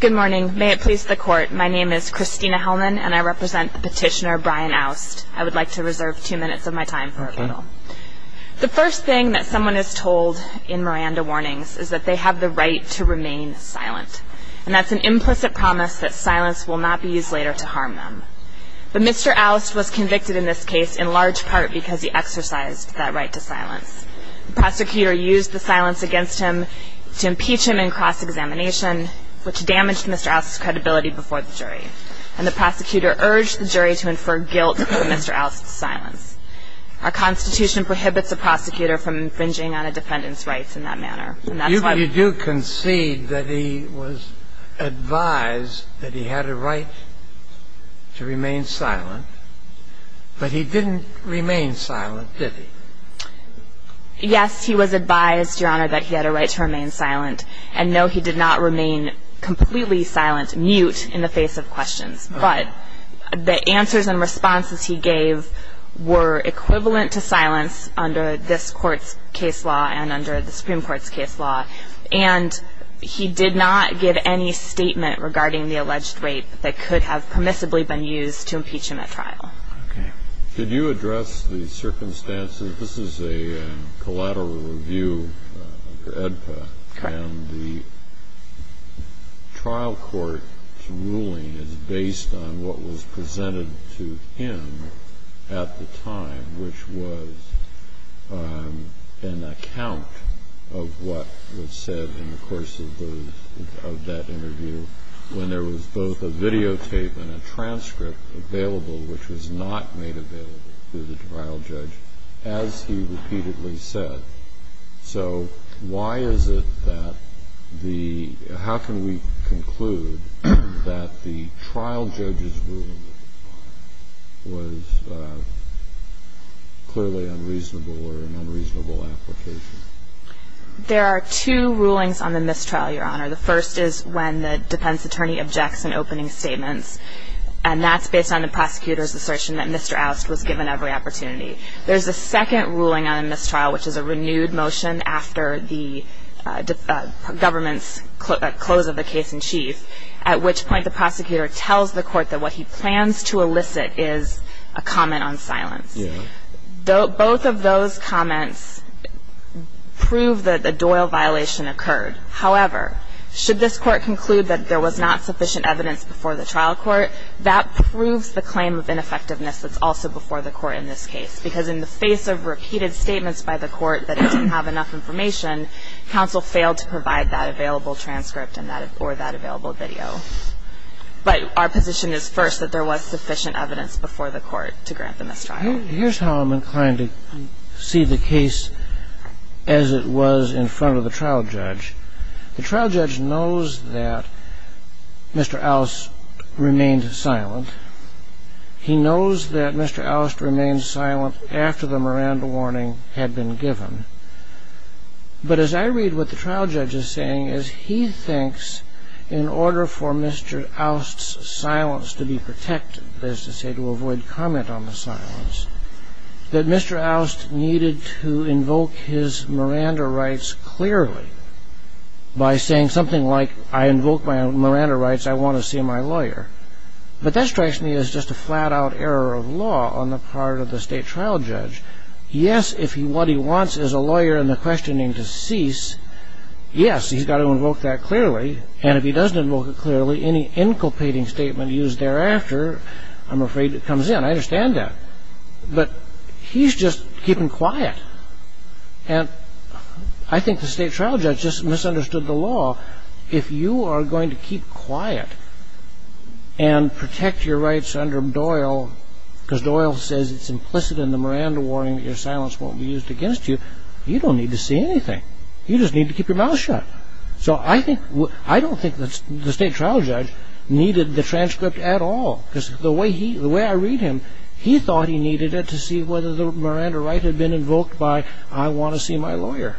Good morning, may it please the court. My name is Christina Hellman and I represent the petitioner Brian oust I would like to reserve two minutes of my time for a panel The first thing that someone is told in Miranda warnings is that they have the right to remain silent And that's an implicit promise that silence will not be used later to harm them But mr. Aust was convicted in this case in large part because he exercised that right to silence The prosecutor used the silence against him to impeach him in cross-examination which damaged mr Aust's credibility before the jury and the prosecutor urged the jury to infer guilt mr. Aust's silence Our Constitution prohibits a prosecutor from infringing on a defendant's rights in that manner And that's why you do concede that he was Advised that he had a right to remain silent But he didn't remain silent. Did he? Yes, he was advised your honor that he had a right to remain silent. And no, he did not remain completely silent mute in the face of questions, but the answers and responses he gave were equivalent to silence under this court's case law and under the Supreme Court's case law and He did not give any statement regarding the alleged rape that could have permissibly been used to impeach him at trial Did you address the circumstances? This is a? collateral review edpa and the Trial court ruling is based on what was presented to him at the time which was An account of what was said in the course of those of that interview When there was both a videotape and a transcript available Which was not made available to the trial judge as he repeatedly said So why is it that the how can we conclude that the trial judge's rule? was Clearly unreasonable or an unreasonable application There are two rulings on the mistrial your honor The first is when the defense attorney objects and opening statements and that's based on the prosecutor's assertion that mr Aust was given every opportunity. There's a second ruling on a mistrial, which is a renewed motion after the government's Close of the case in chief at which point the prosecutor tells the court that what he plans to elicit is a comment on silence Though both of those comments Prove that the Doyle violation occurred However, should this court conclude that there was not sufficient evidence before the trial court that proves the claim of ineffectiveness That's also before the court in this case because in the face of repeated statements by the court that didn't have enough information Counsel failed to provide that available transcript and that or that available video But our position is first that there was sufficient evidence before the court to grant the mistrial Here's how I'm inclined to see the case as It was in front of the trial judge. The trial judge knows that Mr. Alice remained silent He knows that mr. Alister remained silent after the Miranda warning had been given But as I read what the trial judge is saying is he thinks in order for mr Alister's silence to be protected there's to say to avoid comment on the silence That mr. Alister needed to invoke his Miranda rights clearly By saying something like I invoke my Miranda rights. I want to see my lawyer But that strikes me as just a flat-out error of law on the part of the state trial judge Yes, if he what he wants is a lawyer in the questioning to cease Yes, he's got to invoke that clearly and if he doesn't invoke it clearly any inculpating statement used thereafter I'm afraid it comes in. I understand that but he's just keeping quiet and I think the state trial judge just misunderstood the law if you are going to keep quiet and Protect your rights under Doyle Because Doyle says it's implicit in the Miranda warning that your silence won't be used against you You don't need to see anything. You just need to keep your mouth shut So I think what I don't think that's the state trial judge Needed the transcript at all because the way he the way I read him He thought he needed it to see whether the Miranda right had been invoked by I want to see my lawyer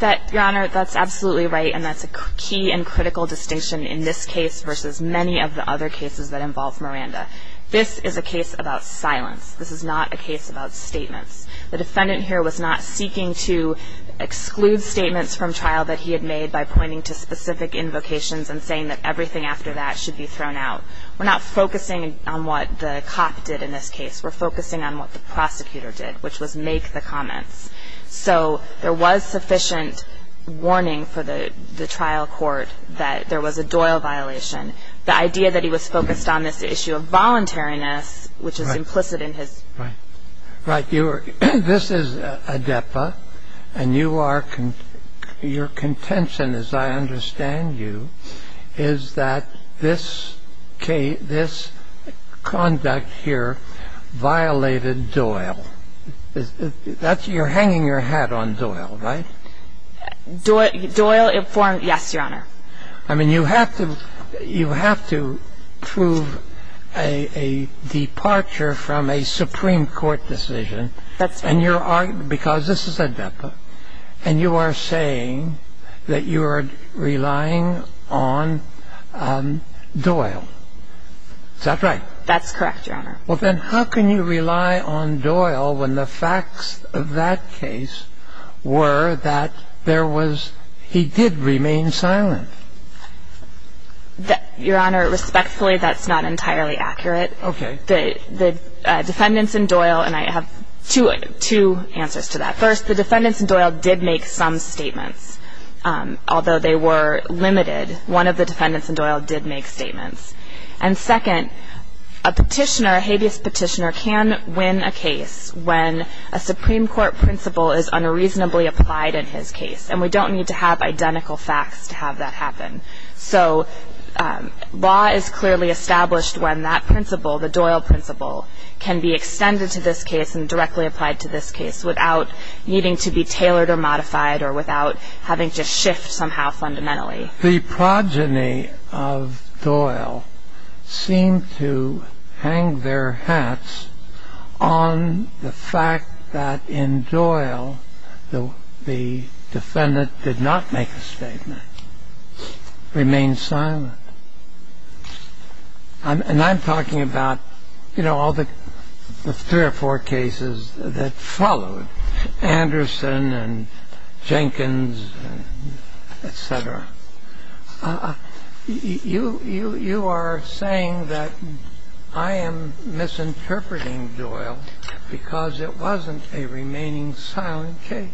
That your honor that's absolutely right And that's a key and critical distinction in this case versus many of the other cases that involve Miranda This is a case about silence This is not a case about statements. The defendant here was not seeking to Exclude statements from trial that he had made by pointing to specific invocations and saying that everything after that should be thrown out We're not focusing on what the cop did in this case. We're focusing on what the prosecutor did which was make the comments So there was sufficient Warning for the the trial court that there was a Doyle violation the idea that he was focused on this issue of voluntariness Which is implicit in his right right you were this is a DEPA and you are Your contention as I understand you is that this K this conduct here violated Doyle That's you're hanging your hat on Doyle, right? Do it Doyle it for him. Yes, your honor. I mean you have to you have to prove a Departure from a Supreme Court decision That's and you're arguing because this is a DEPA and you are saying that you are relying on Doyle Is that right? That's correct. Your honor. Well, then how can you rely on Doyle when the facts of that case? Were that there was he did remain silent That your honor respectfully that's not entirely accurate Okay, the the defendants and Doyle and I have to two answers to that first the defendants and Doyle did make some statements although they were limited one of the defendants and Doyle did make statements and second a petitioner habeas petitioner can win a case when a So Law is clearly established when that principle the Doyle principle can be extended to this case and directly applied to this case without Needing to be tailored or modified or without having to shift somehow fundamentally the progeny of Doyle Seemed to hang their hats on the fact that in Doyle the Defendant did not make a statement Remain silent I'm and I'm talking about, you know, all the three or four cases that followed Anderson and Jenkins Etc You you you are saying that I am Misinterpreting Doyle because it wasn't a remaining silent case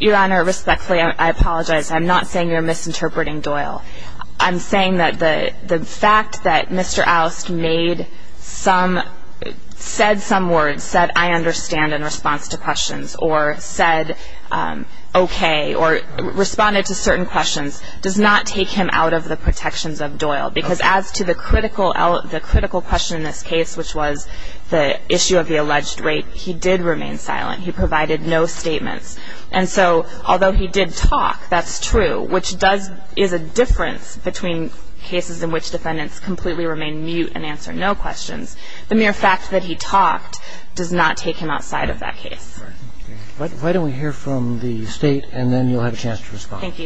Your honor respectfully, I apologize. I'm not saying you're misinterpreting Doyle. I'm saying that the the fact that mr oust made some said some words said I understand in response to questions or said okay, or Responded to certain questions does not take him out of the protections of Doyle because as to the critical L the critical question in this case, which was the issue of the alleged rape. He did remain silent He provided no statements. And so although he did talk that's true Which does is a difference between cases in which defendants completely remain mute and answer no questions The mere fact that he talked does not take him outside of that case Why don't we hear from the state and then you'll have a chance to respond. Thank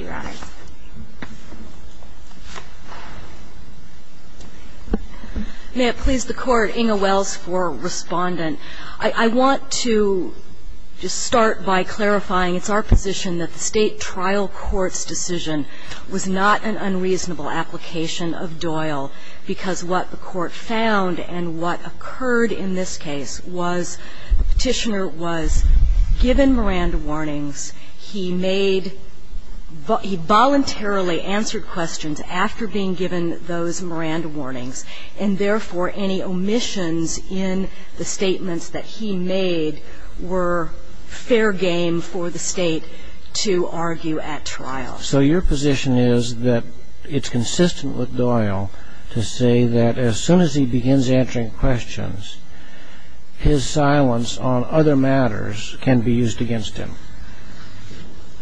you Just start by clarifying it's our position that the state trial courts decision was not an unreasonable application of Doyle because what the court found and what occurred in this case was Petitioner was given Miranda warnings. He made But he voluntarily answered questions after being given those Miranda warnings and therefore any omissions in the statements that he made were Fair game for the state to argue at trial So your position is that it's consistent with Doyle to say that as soon as he begins answering questions His silence on other matters can be used against him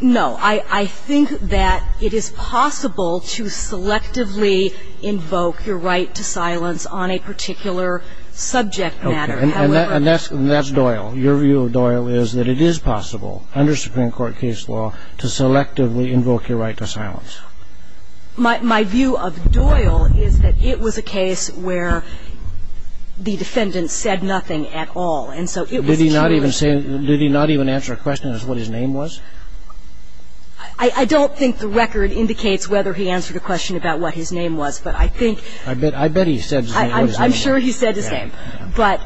No, I I think that it is possible to selectively Subject matter and that's that's Doyle your view of Doyle is that it is possible under Supreme Court case law to Selectively invoke your right to silence My view of Doyle is that it was a case where? The defendant said nothing at all. And so did he not even say did he not even answer a question as what his name was? I Don't think the record indicates whether he answered a question about what his name was, but I think I bet I bet he said I'm sure he said his name But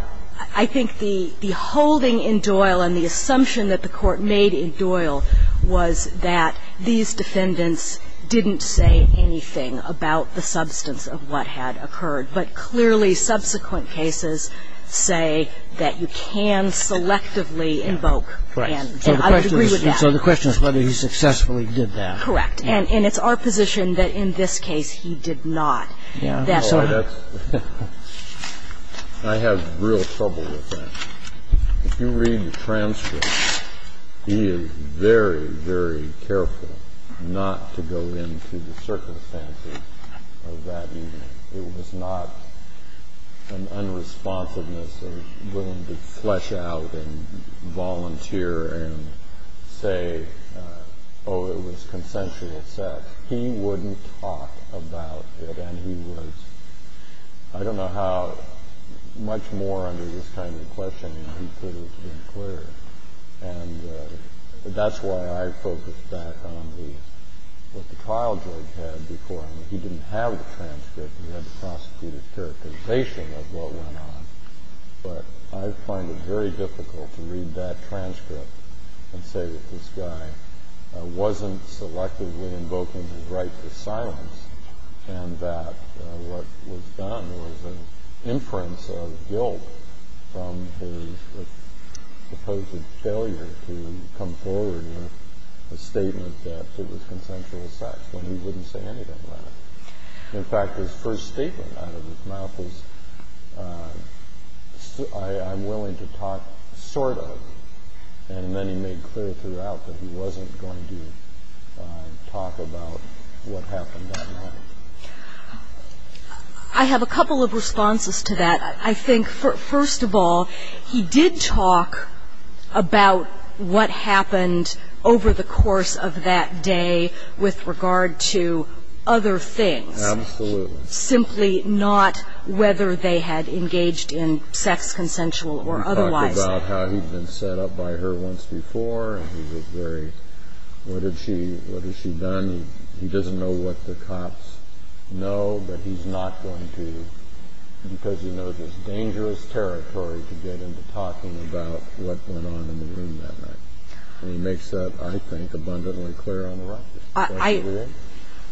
I think the the holding in Doyle and the assumption that the court made in Doyle was that these defendants? Didn't say anything about the substance of what had occurred, but clearly subsequent cases Say that you can selectively invoke So the question is whether he successfully did that correct and and it's our position that in this case he did not That's all I that's I Have real trouble with If you read the transcript He is very very careful not to go into the circumstances It was not an unresponsiveness of willing to flesh out and volunteer and say oh It was consensual sex. He wouldn't talk about and he was I don't know how much more under this kind of question he could have been clear and That's why I focused back on the what the trial judge had before he didn't have the transcript We had the prosecutor characterization of what went on But I find it very difficult to read that transcript and say that this guy wasn't selectively invoking his right to silence and What was done was an inference of guilt from his Supposed failure to come forward with a statement that it was consensual sex when he wouldn't say anything in fact his first statement out of his mouth was I'm willing to talk sort of and then he made clear throughout that he wasn't going to Talk about what happened I Have a couple of responses to that. I think first of all he did talk about What happened over the course of that day with regard to other things? Simply not whether they had engaged in sex consensual or otherwise Set up by her once before He was very What did she what has she done? He doesn't know what the cops know, but he's not going to Because you know this dangerous territory to get into talking about what went on in the room that night And he makes that I think abundantly clear on the right eye.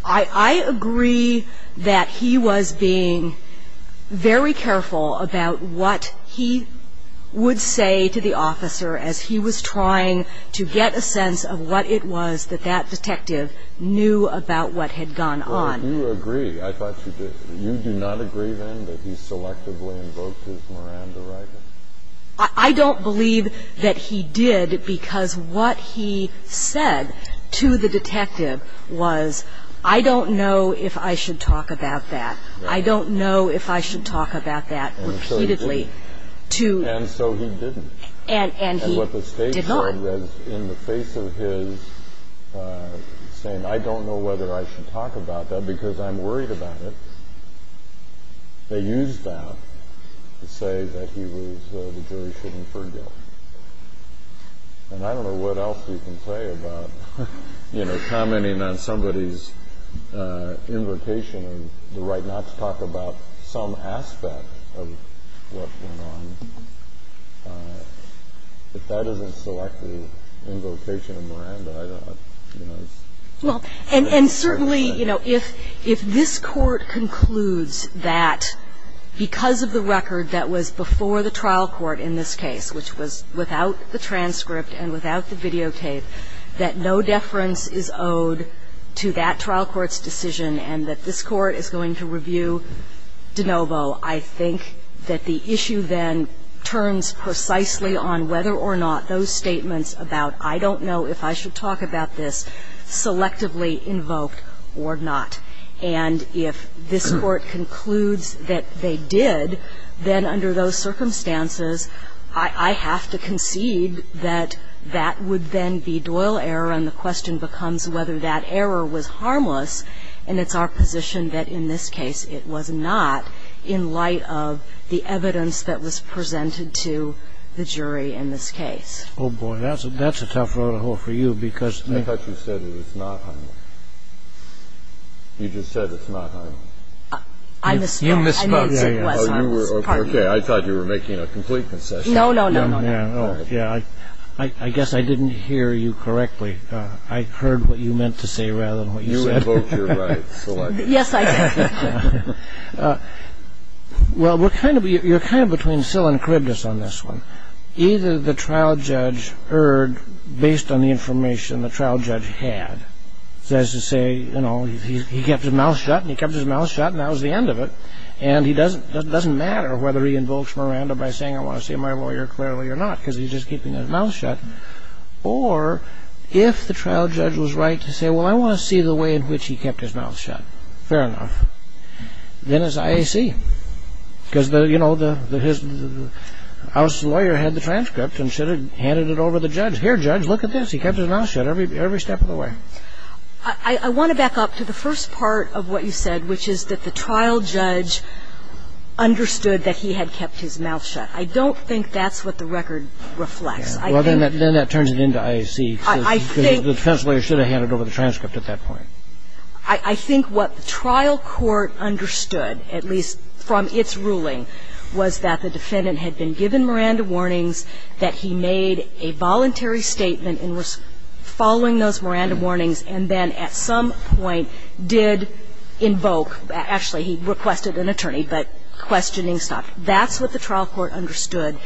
I agree that he was being very careful about what he Would say to the officer as he was trying to get a sense of what it was that that detective Knew about what had gone on you agree. I thought you did you do not agree then that he selectively invoked his Miranda right, I Don't believe that he did because what he said to the detective was I don't know if I should talk about that. I don't know if I should talk about that repeatedly To and so he didn't and and what the state is in the face of his Saying I don't know whether I should talk about that because I'm worried about it They used that to say that he was the jury shouldn't forgive And I don't know what else you can say about You know commenting on somebody's Invocation and the right not to talk about some aspect If that isn't selectively invocation Well, and and certainly, you know if if this court concludes that Because of the record that was before the trial court in this case Which was without the transcript and without the videotape that no deference is owed To that trial court's decision and that this court is going to review DeNovo I think that the issue then turns precisely on whether or not those statements about I don't know if I should talk about this Selectively invoked or not and if this court concludes that they did Then under those circumstances I have to concede that that would then be Doyle error and the question becomes whether that error was Harmless, and it's our position that in this case It was not in light of the evidence that was presented to the jury in this case Oh boy, that's that's a tough road for you because I thought you said it was not You just said it's not I miss you miss my Okay, I thought you were making a complete concession no no no no yeah, I I guess I didn't hear you correctly I heard what you meant to say rather than what you said Yes Well, we're kind of you're kind of between Sill and Kribnitz on this one either the trial judge heard based on the information the trial judge had Says to say, you know, he kept his mouth shut and he kept his mouth shut and that was the end of it And he doesn't doesn't matter whether he invokes Miranda by saying I want to see my lawyer clearly or not because he's just keeping his mouth shut or If the trial judge was right to say well, I want to see the way in which he kept his mouth shut fair enough then as I see because the you know the House lawyer had the transcript and should have handed it over the judge here judge. Look at this He kept his mouth shut every every step of the way. I Think what the trial court understood at least from its ruling was that the defendant had been given Miranda warnings That he made a voluntary statement and was following those Miranda warnings and then at some point Did invoke actually he requested an invocation Questioning stuff that's what the trial court understood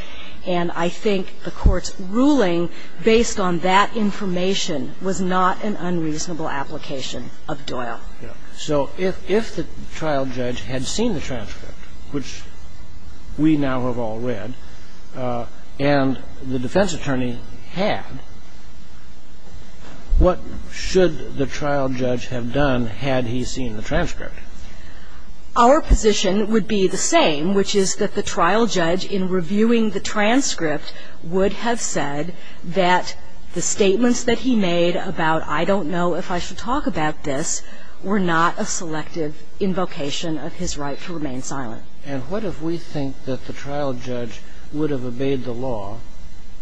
and I think the court's ruling based on that Information was not an unreasonable application of Doyle so if if the trial judge had seen the transcript which We now have all read and the defense attorney had What should the trial judge have done had he seen the transcript Our position would be the same which is that the trial judge in reviewing the transcript would have said That the statements that he made about I don't know if I should talk about this were not a selective Invocation of his right to remain silent and what if we think that the trial judge would have obeyed the law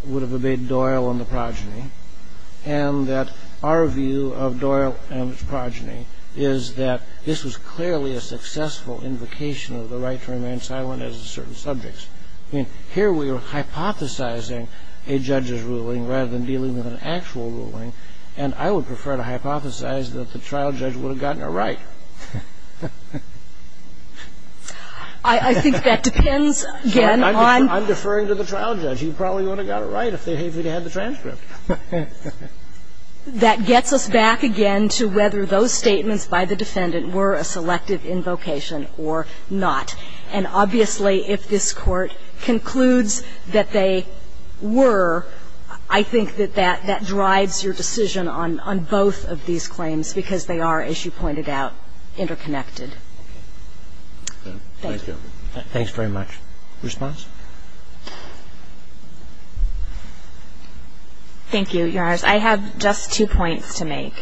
would have obeyed Doyle and the progeny and Our view of Doyle and its progeny is that this was clearly a successful Invocation of the right to remain silent as a certain subjects. I mean here we were Hypothesizing a judge's ruling rather than dealing with an actual ruling and I would prefer to hypothesize that the trial judge would have gotten it right I Think that depends again. I'm deferring to the trial judge. You probably would have got it right if they hate me to have the transcript that gets us back again to whether those statements by the defendant were a selective invocation or not and obviously if this court concludes that they Were I think that that that drives your decision on on both of these claims because they are as you pointed out interconnected Thanks very much response Thank You yours I have just two points to make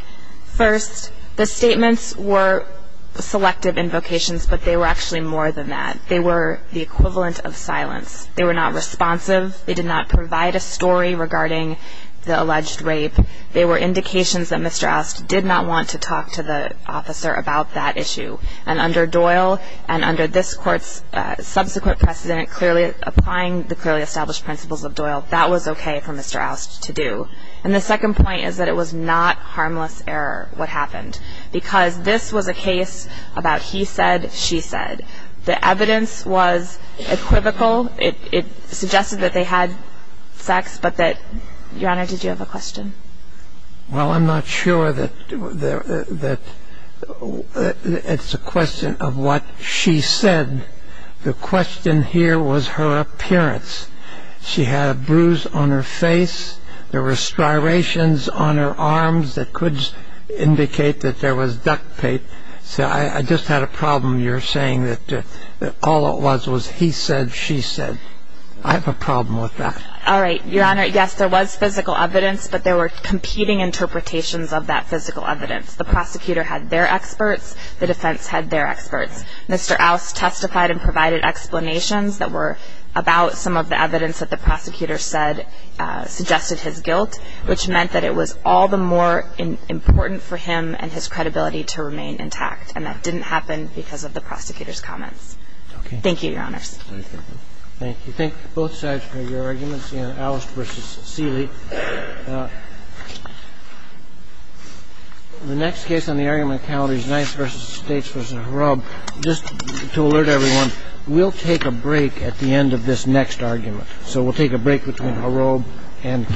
first the statements were Selective invocations, but they were actually more than that. They were the equivalent of silence. They were not responsive They did not provide a story regarding the alleged rape. They were indications that mr Ost did not want to talk to the officer about that issue and under Doyle and under this courts Subsequent precedent clearly applying the clearly established principles of Doyle that was okay for mr Ost to do and the second point is that it was not harmless error What happened because this was a case about he said she said the evidence was Equivocal it it suggested that they had sex, but that your honor. Did you have a question? Well, I'm not sure that that It's a question of what she said The question here was her appearance She had a bruise on her face. There were striations on her arms that could Indicate that there was duct tape. So I just had a problem You're saying that all it was was he said she said I have a problem with that. All right, your honor Yes, there was physical evidence, but there were competing interpretations of that physical evidence The prosecutor had their experts the defense had their experts. Mr Ost testified and provided explanations that were about some of the evidence that the prosecutor said Suggested his guilt which meant that it was all the more Important for him and his credibility to remain intact and that didn't happen because of the prosecutor's comments. Okay. Thank you. Your honors Thank you. Thank both sides for your arguments in Ost versus Seeley The Next case on the area my count is nice versus States was a rub just to alert everyone We'll take a break at the end of this next argument. So we'll take a break between a robe and King